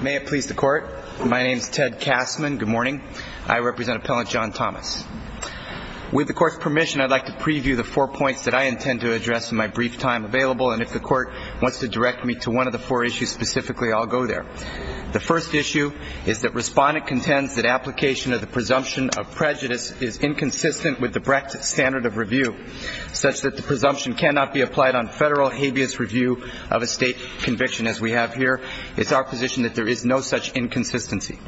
May it please the Court. My name is Ted Kastman. Good morning. I represent Appellant John Thomas. With the Court's permission, I'd like to preview the four points that I intend to address in my brief time available, and if the Court wants to direct me to one of the four issues specifically, I'll go there. The first issue is that Respondent contends that application of the presumption of prejudice is inconsistent with the Brecht Standard of Review, such that the presumption cannot be applied on federal habeas review of a State conviction as we have here. It's our position that there is no such inconsistency.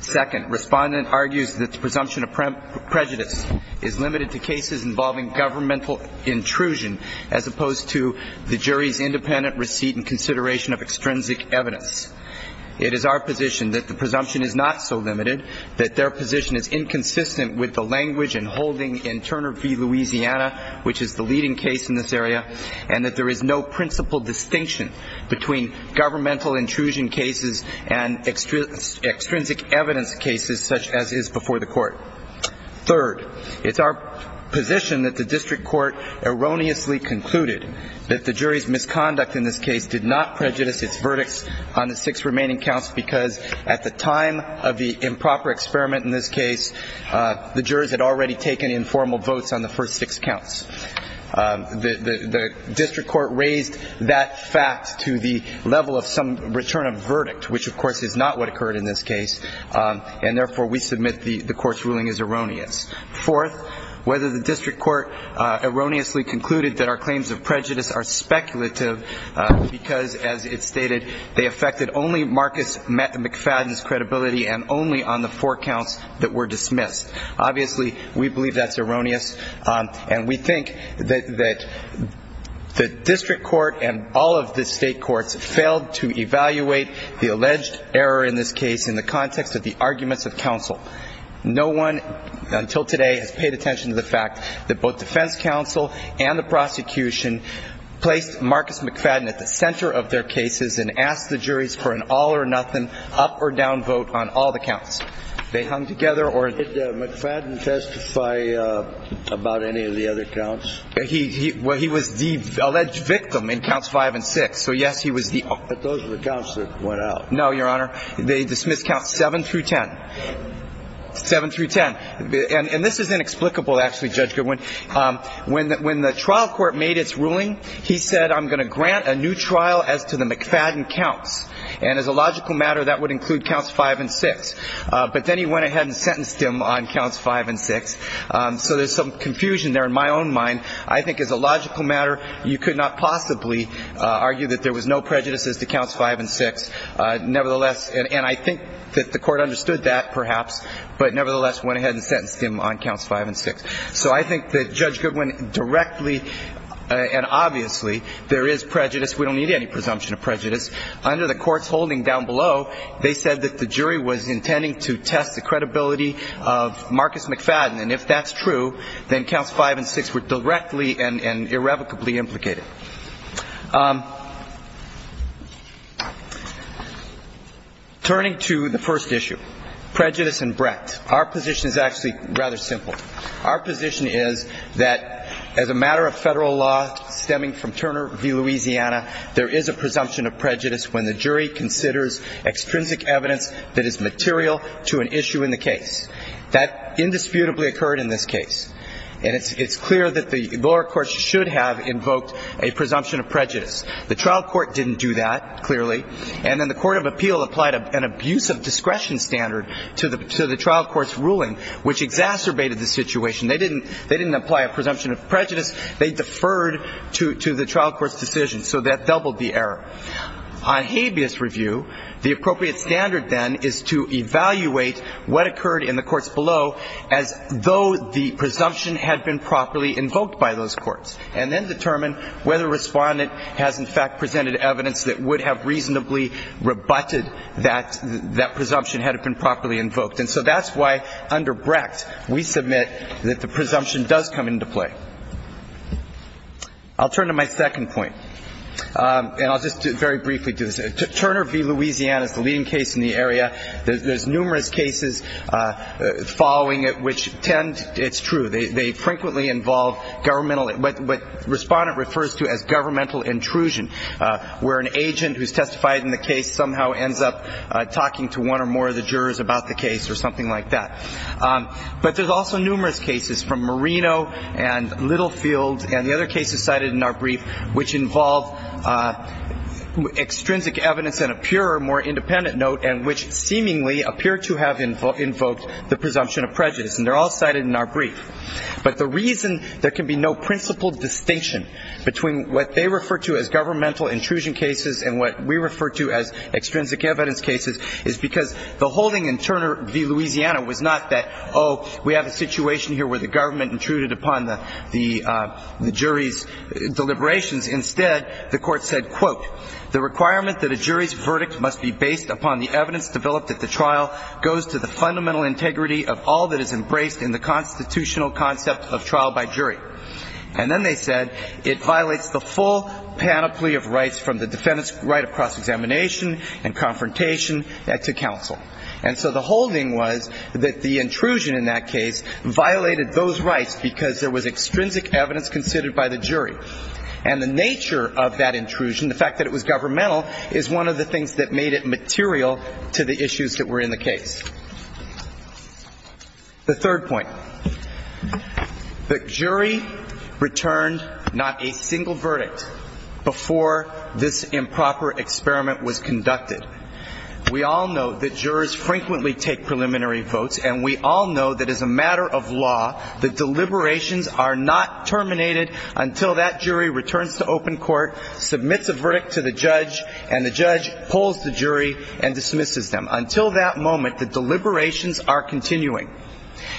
Second, Respondent argues that the presumption of prejudice is limited to cases involving governmental intrusion as opposed to the jury's independent receipt and consideration of extrinsic evidence. It is our position that the presumption is not so limited, that their position is inconsistent with the language and holding in Turner v. Louisiana, which is the leading case in this area, and that there is no principal distinction between governmental intrusion cases and extrinsic evidence cases such as is before the Court. Third, it's our position that the District Court erroneously concluded that the jury's misconduct in this case did not prejudice its verdicts on the six remaining counts because at the time of the improper experiment in this case, the jurors had already taken informal votes on the first six counts. The District Court raised that fact to the level of some return of verdict, which of course is not what occurred in this case, and therefore we submit the Court's ruling as erroneous. Fourth, whether the District Court erroneously concluded that our claims of prejudice are speculative because, as it's stated, they affected only Marcus McFadden's credibility and only on the four counts that were dismissed. Obviously, we believe that's erroneous, and we think that the District Court and all of the state courts failed to evaluate the alleged error in this case in the context of the arguments of counsel. No one until today has paid attention to the fact that both defense counsel and the prosecution placed Marcus McFadden at the center of their cases and asked the juries for an all-or-nothing, up-or-down vote on all the counts. They hung together or — Did McFadden testify about any of the other counts? He was the alleged victim in counts five and six. So, yes, he was the — But those are the counts that went out. No, Your Honor. They dismissed counts seven through ten. Seven through ten. And this is inexplicable, actually, Judge Goodwin. When the trial court made its ruling, he said, I'm going to grant a new trial as to the McFadden counts. And as a logical matter, that would include counts five and six. But then he went ahead and sentenced him on counts five and six. So there's some confusion there in my own mind. I think as a logical matter, you could not possibly argue that there was no prejudices to counts five and six. Nevertheless — and I think that the Court understood that, perhaps, but nevertheless went ahead and sentenced him on counts five and six. So I think that Judge Goodwin directly and obviously, there is prejudice. We don't need any presumption of prejudice. Under the court's holding down below, they said that the jury was intending to test the credibility of Marcus McFadden. And if that's true, then counts five and six were directly and irrevocably implicated. Turning to the first issue, prejudice and breadth. Our position is actually rather simple. Our position is that as a matter of federal law stemming from Turner v. Louisiana, there is a presumption of prejudice when the jury considers extrinsic evidence that is material to an issue in the case. That indisputably occurred in this case. And it's clear that the lower courts should have invoked a presumption of prejudice. The trial court didn't do that, clearly. And then the court of appeal applied an abuse of discretion standard to the trial court's ruling, which exacerbated the situation. They didn't apply a presumption of prejudice. They deferred to the trial court's decision. So that doubled the error. On habeas review, the appropriate standard then is to evaluate what occurred in the courts below as though the presumption had been properly invoked by those courts, and then determine whether a respondent has in fact presented evidence that would have reasonably rebutted that presumption had it been properly invoked. And so that's why under breadth we submit that the presumption does come into play. I'll turn to my second point, and I'll just very briefly do this. Turner v. Louisiana is the leading case in the area. There's numerous cases following it which tend to be true. They frequently involve what respondent refers to as governmental intrusion, where an agent who's testified in the case somehow ends up talking to one or more of the jurors about the case or something like that. But there's also numerous cases from Marino and Littlefield, and the other cases cited in our brief, which involve extrinsic evidence in a purer, more independent note, and which seemingly appear to have invoked the presumption of prejudice. And they're all cited in our brief. But the reason there can be no principal distinction between what they refer to as governmental intrusion cases and what we refer to as extrinsic evidence cases is because the holding in Turner v. Louisiana was not that, oh, we have a situation here where the government intruded upon the jury's deliberations. Instead, the court said, quote, the requirement that a jury's verdict must be based upon the evidence developed at the trial goes to the fundamental integrity of all that is embraced in the constitutional concept of trial by jury. And then they said it violates the full panoply of rights from the defendant's right of cross-examination and confrontation to counsel. And so the holding was that the intrusion in that case violated those rights because there was extrinsic evidence considered by the jury. And the nature of that intrusion, the fact that it was governmental, is one of the things that made it material to the issues that were in the case. The third point. The jury returned not a single verdict before this improper experiment was conducted. We all know that jurors frequently take preliminary votes, and we all know that as a matter of law, the deliberations are not terminated until that jury returns to open court, submits a verdict to the judge, and the judge pulls the jury and dismisses them. Until that moment, the deliberations are continuing.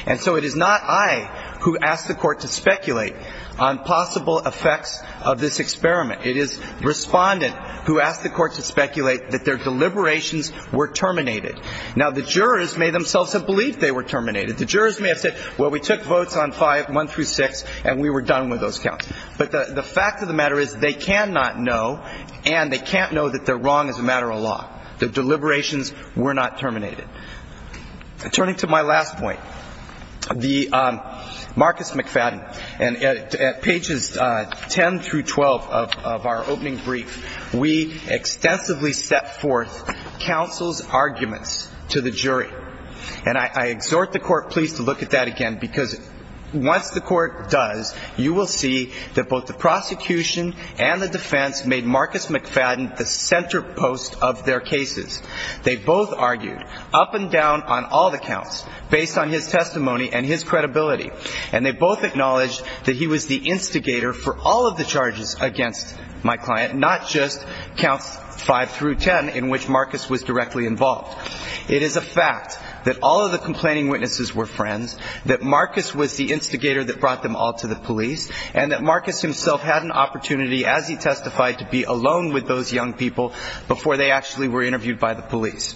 And so it is not I who asked the court to speculate on possible effects of this experiment. It is respondent who asked the court to speculate that their deliberations were terminated. Now, the jurors may themselves have believed they were terminated. The jurors may have said, well, we took votes on 5, 1 through 6, and we were done with those counts. But the fact of the matter is they cannot know, and they can't know that they're wrong as a matter of law, that deliberations were not terminated. Turning to my last point, the Marcus McFadden, and at pages 10 through 12 of our opening brief, we extensively set forth counsel's arguments to the jury. And I exhort the court, please, to look at that again, because once the court does, you will see that both the prosecution and the defense made Marcus McFadden the center post of their cases. They both argued up and down on all the counts based on his testimony and his credibility, and they both acknowledged that he was the instigator for all of the charges against my client, not just counts 5 through 10 in which Marcus was directly involved. It is a fact that all of the complaining witnesses were friends, that Marcus was the instigator that brought them all to the police, and that Marcus himself had an opportunity, as he testified, to be alone with those young people before they actually were interviewed by the police.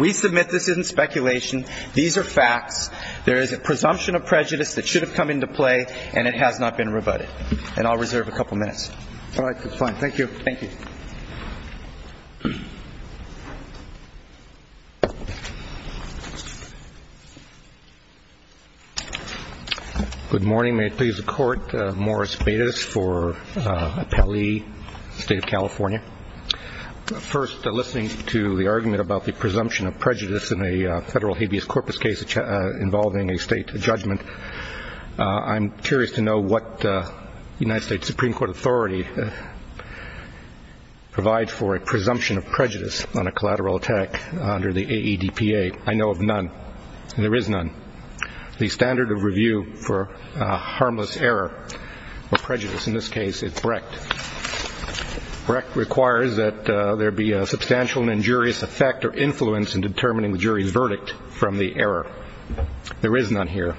We submit this isn't speculation. These are facts. There is a presumption of prejudice that should have come into play, and it has not been rebutted. And I'll reserve a couple minutes. All right. That's fine. Thank you. Thank you. Good morning. May it please the Court. Morris Bates for Appellee, State of California. First, listening to the argument about the presumption of prejudice in a federal habeas corpus case involving a state judgment, I'm curious to know what the United States Supreme Court authority provides for a presumption of prejudice on a collateral attack under the AEDPA. I know of none, and there is none. The standard of review for harmless error or prejudice in this case is Brecht. Brecht requires that there be a substantial and injurious effect or influence in determining the jury's verdict from the error. There is none here.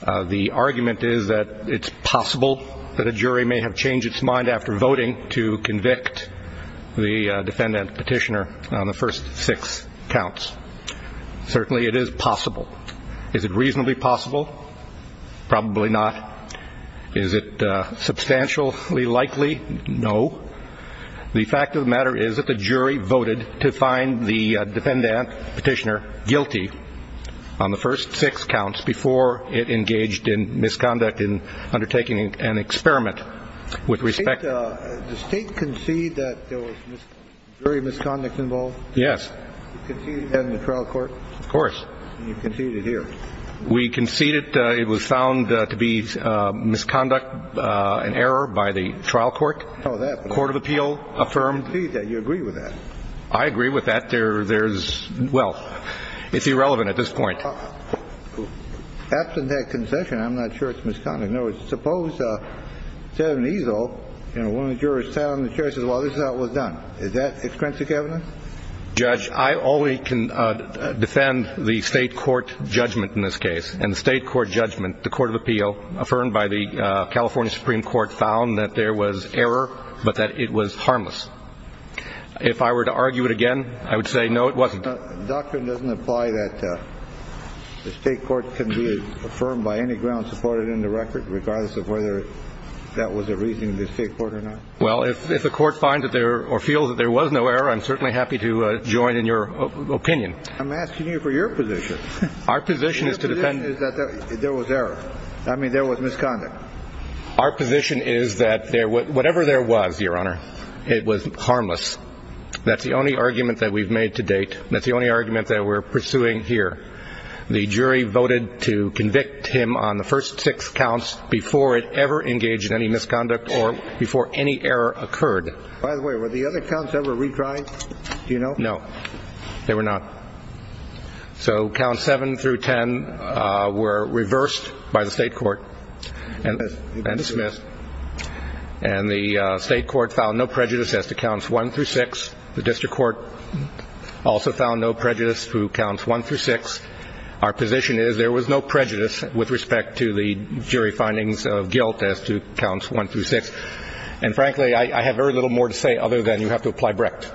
The argument is that it's possible that a jury may have changed its mind after voting to convict the defendant petitioner on the first six counts. Certainly it is possible. Is it reasonably possible? Probably not. Is it substantially likely? No. The fact of the matter is that the jury voted to find the defendant petitioner guilty on the first six counts before it engaged in misconduct in undertaking an experiment. The state conceded that there was jury misconduct involved? Yes. You conceded that in the trial court? Of course. And you conceded here? We conceded it was found to be misconduct and error by the trial court. Court of appeal affirmed? You agreed with that. I agree with that. There's – well, it's irrelevant at this point. Absent that concession, I'm not sure it's misconduct. In other words, suppose, instead of an easel and one of the jurors sat on the chair and said, well, this is how it was done. Is that extrinsic evidence? Judge, I only can defend the state court judgment in this case. And the state court judgment, the court of appeal, affirmed by the California Supreme Court, found that there was error but that it was harmless. If I were to argue it again, I would say, no, it wasn't. The doctrine doesn't apply that the state court can be affirmed by any ground supported in the record, regardless of whether that was a reasoning of the state court or not? Well, if the court finds that there – or feels that there was no error, I'm certainly happy to join in your opinion. I'm asking you for your position. Our position is to defend. Our position is that there was error. I mean, there was misconduct. Our position is that whatever there was, Your Honor, it was harmless. That's the only argument that we've made to date. That's the only argument that we're pursuing here. The jury voted to convict him on the first six counts before it ever engaged in any misconduct or before any error occurred. By the way, were the other counts ever retried? Do you know? No, they were not. So counts 7 through 10 were reversed by the state court and dismissed. And the state court found no prejudice as to counts 1 through 6. The district court also found no prejudice through counts 1 through 6. Our position is there was no prejudice with respect to the jury findings of guilt as to counts 1 through 6. And, frankly, I have very little more to say other than you have to apply Brecht.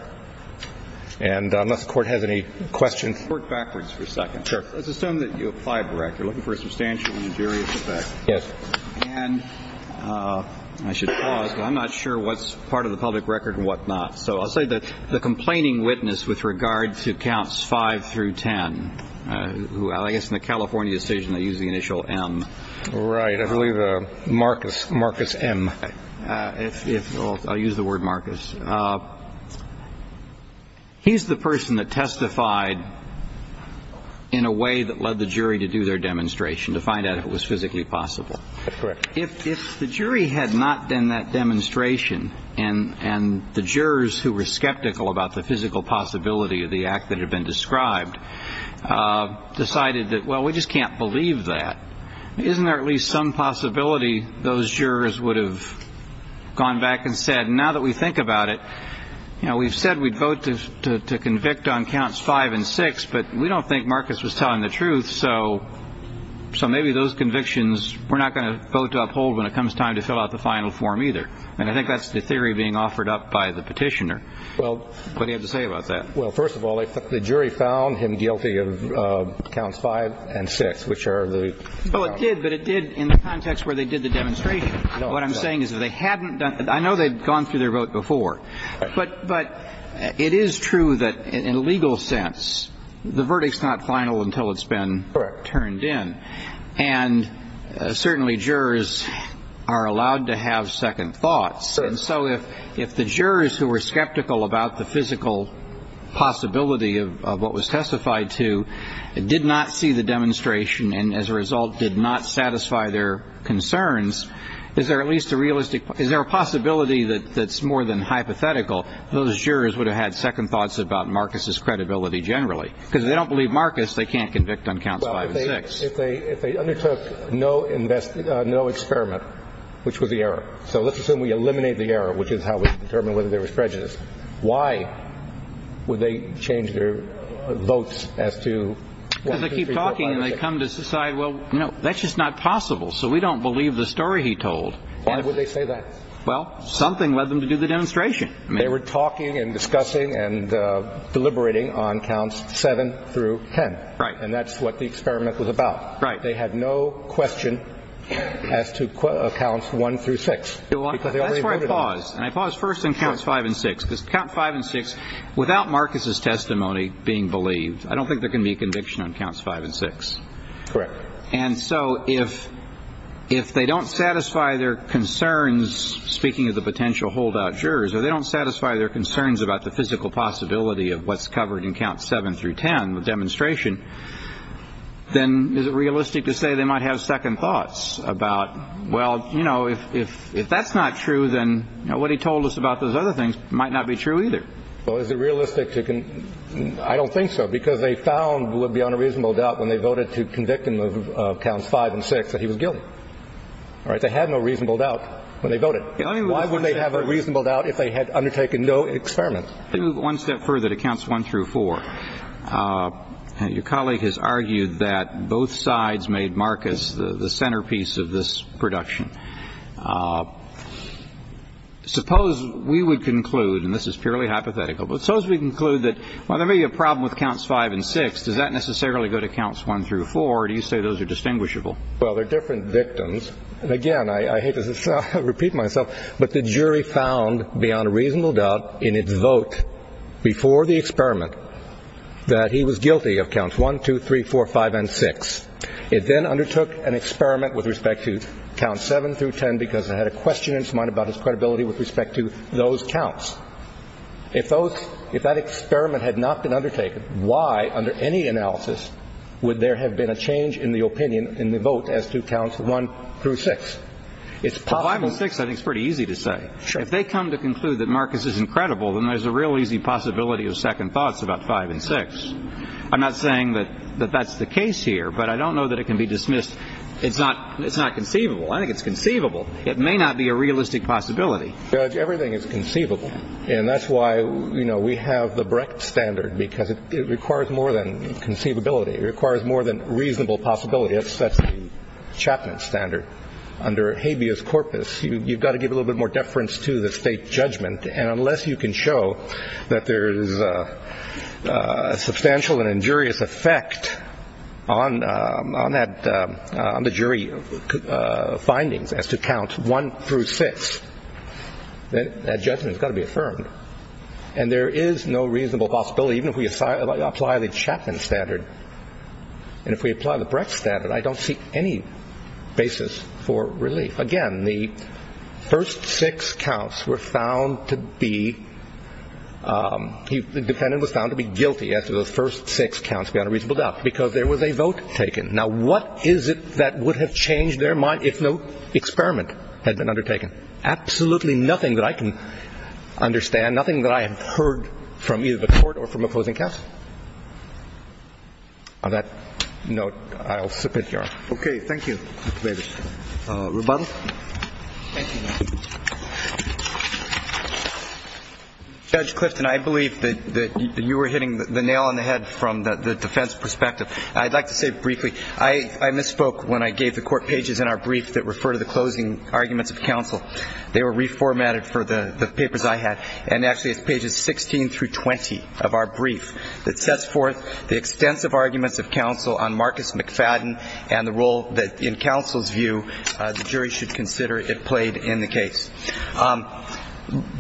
And unless the court has any questions. Court, backwards for a second. Sure. Let's assume that you applied Brecht. You're looking for a substantial and injurious effect. Yes. And I should pause, but I'm not sure what's part of the public record and what not. So I'll say that the complaining witness with regard to counts 5 through 10, I guess in the California decision they used the initial M. Right. I believe Marcus M. I'll use the word Marcus. He's the person that testified in a way that led the jury to do their demonstration to find out if it was physically possible. That's correct. If the jury had not done that demonstration and the jurors who were skeptical about the physical possibility of the act that had been described decided that, well, we just can't believe that, isn't there at least some possibility those jurors would have gone back and said, now that we think about it, we've said we'd vote to convict on counts 5 and 6, but we don't think Marcus was telling the truth. So maybe those convictions we're not going to vote to uphold when it comes time to fill out the final form either. And I think that's the theory being offered up by the petitioner. Well, what do you have to say about that? Well, first of all, the jury found him guilty of counts 5 and 6, which are the. Well, it did. But it did in the context where they did the demonstration. What I'm saying is that they hadn't done. I know they've gone through their vote before. But it is true that in a legal sense, the verdict's not final until it's been turned in. And certainly jurors are allowed to have second thoughts. And so if the jurors who were skeptical about the physical possibility of what was testified to did not see the demonstration and as a result did not satisfy their concerns, is there at least a realistic, is there a possibility that that's more than hypothetical? Those jurors would have had second thoughts about Marcus's credibility generally. Because if they don't believe Marcus, they can't convict on counts 5 and 6. Well, if they undertook no experiment, which was the error. So let's assume we eliminate the error, which is how we determine whether there was prejudice. Why would they change their votes as to 1, 2, 3, 4, 5, 6? Because they keep talking and they come to decide, well, no, that's just not possible. So we don't believe the story he told. Why would they say that? Well, something led them to do the demonstration. They were talking and discussing and deliberating on counts 7 through 10. Right. And that's what the experiment was about. Right. They had no question as to counts 1 through 6. That's why I paused. And I paused first on counts 5 and 6. Because count 5 and 6, without Marcus's testimony being believed, I don't think there can be a conviction on counts 5 and 6. Correct. And so if they don't satisfy their concerns, speaking of the potential holdout jurors, or they don't satisfy their concerns about the physical possibility of what's covered in counts 7 through 10, the demonstration, then is it realistic to say they might have second thoughts about, well, you know, if that's not true, then what he told us about those other things might not be true either. Well, is it realistic? I don't think so, because they found it would be on a reasonable doubt when they voted to convict him of counts 5 and 6 that he was guilty. All right. They had no reasonable doubt when they voted. Why wouldn't they have a reasonable doubt if they had undertaken no experiment? Let me move one step further to counts 1 through 4. Your colleague has argued that both sides made Marcus the centerpiece of this production. Suppose we would conclude, and this is purely hypothetical, but suppose we conclude that while there may be a problem with counts 5 and 6, does that necessarily go to counts 1 through 4, or do you say those are distinguishable? Well, they're different victims. And, again, I hate to repeat myself, but the jury found, beyond a reasonable doubt, in its vote before the experiment that he was guilty of counts 1, 2, 3, 4, 5, and 6. It then undertook an experiment with respect to counts 7 through 10 because it had a question in its mind about its credibility with respect to those counts. If that experiment had not been undertaken, why, under any analysis, would there have been a change in the opinion in the vote as to counts 1 through 6? Well, 5 and 6 I think is pretty easy to say. If they come to conclude that Marcus isn't credible, then there's a real easy possibility of second thoughts about 5 and 6. I'm not saying that that's the case here, but I don't know that it can be dismissed. It's not conceivable. I think it's conceivable. It may not be a realistic possibility. Judge, everything is conceivable. And that's why we have the Brecht standard because it requires more than conceivability. It requires more than reasonable possibility. That's the Chapman standard. Under habeas corpus, you've got to give a little bit more deference to the state judgment. And unless you can show that there is a substantial and injurious effect on the jury findings as to counts 1 through 6, then that judgment has got to be affirmed. And there is no reasonable possibility, even if we apply the Chapman standard. And if we apply the Brecht standard, I don't see any basis for relief. Again, the first six counts were found to be ‑‑ the defendant was found to be guilty after those first six counts, beyond a reasonable doubt, because there was a vote taken. Now, what is it that would have changed their mind if no experiment had been undertaken? Absolutely nothing that I can understand, nothing that I have heard from either the court or from opposing counsel. On that note, I'll submit here. Okay. Thank you, Mr. Davis. Rebuttal? Thank you, Your Honor. Judge Clifton, I believe that you were hitting the nail on the head from the defense perspective. I'd like to say briefly, I misspoke when I gave the court pages in our brief that refer to the closing arguments of counsel. They were reformatted for the papers I had. And actually it's pages 16 through 20 of our brief that sets forth the extensive arguments of counsel on Marcus McFadden and the role that, in counsel's view, the jury should consider it played in the case.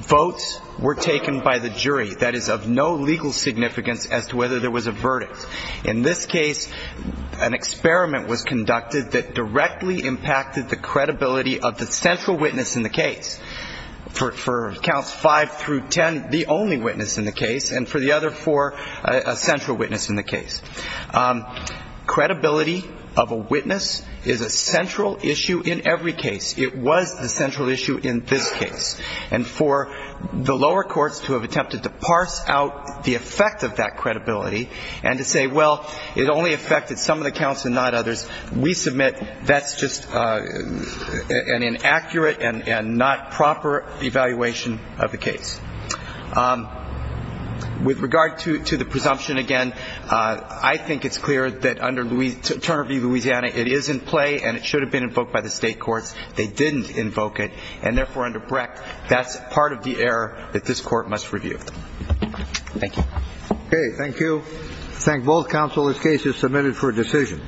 Votes were taken by the jury that is of no legal significance as to whether there was a verdict. In this case, an experiment was conducted that directly impacted the credibility of the central witness in the case. For counts 5 through 10, the only witness in the case, and for the other four, a central witness in the case. Credibility of a witness is a central issue in every case. It was the central issue in this case. And for the lower courts to have attempted to parse out the effect of that credibility and to say, well, it only affected some of the counts and not others, we submit that's just an inaccurate and not proper evaluation of the case. With regard to the presumption, again, I think it's clear that under Turner v. Louisiana it is in play and it should have been invoked by the state courts. They didn't invoke it, and therefore, under Brecht, that's part of the error that this Court must review. Thank you. Okay. Thank you. I thank both counsel. This case is submitted for decision.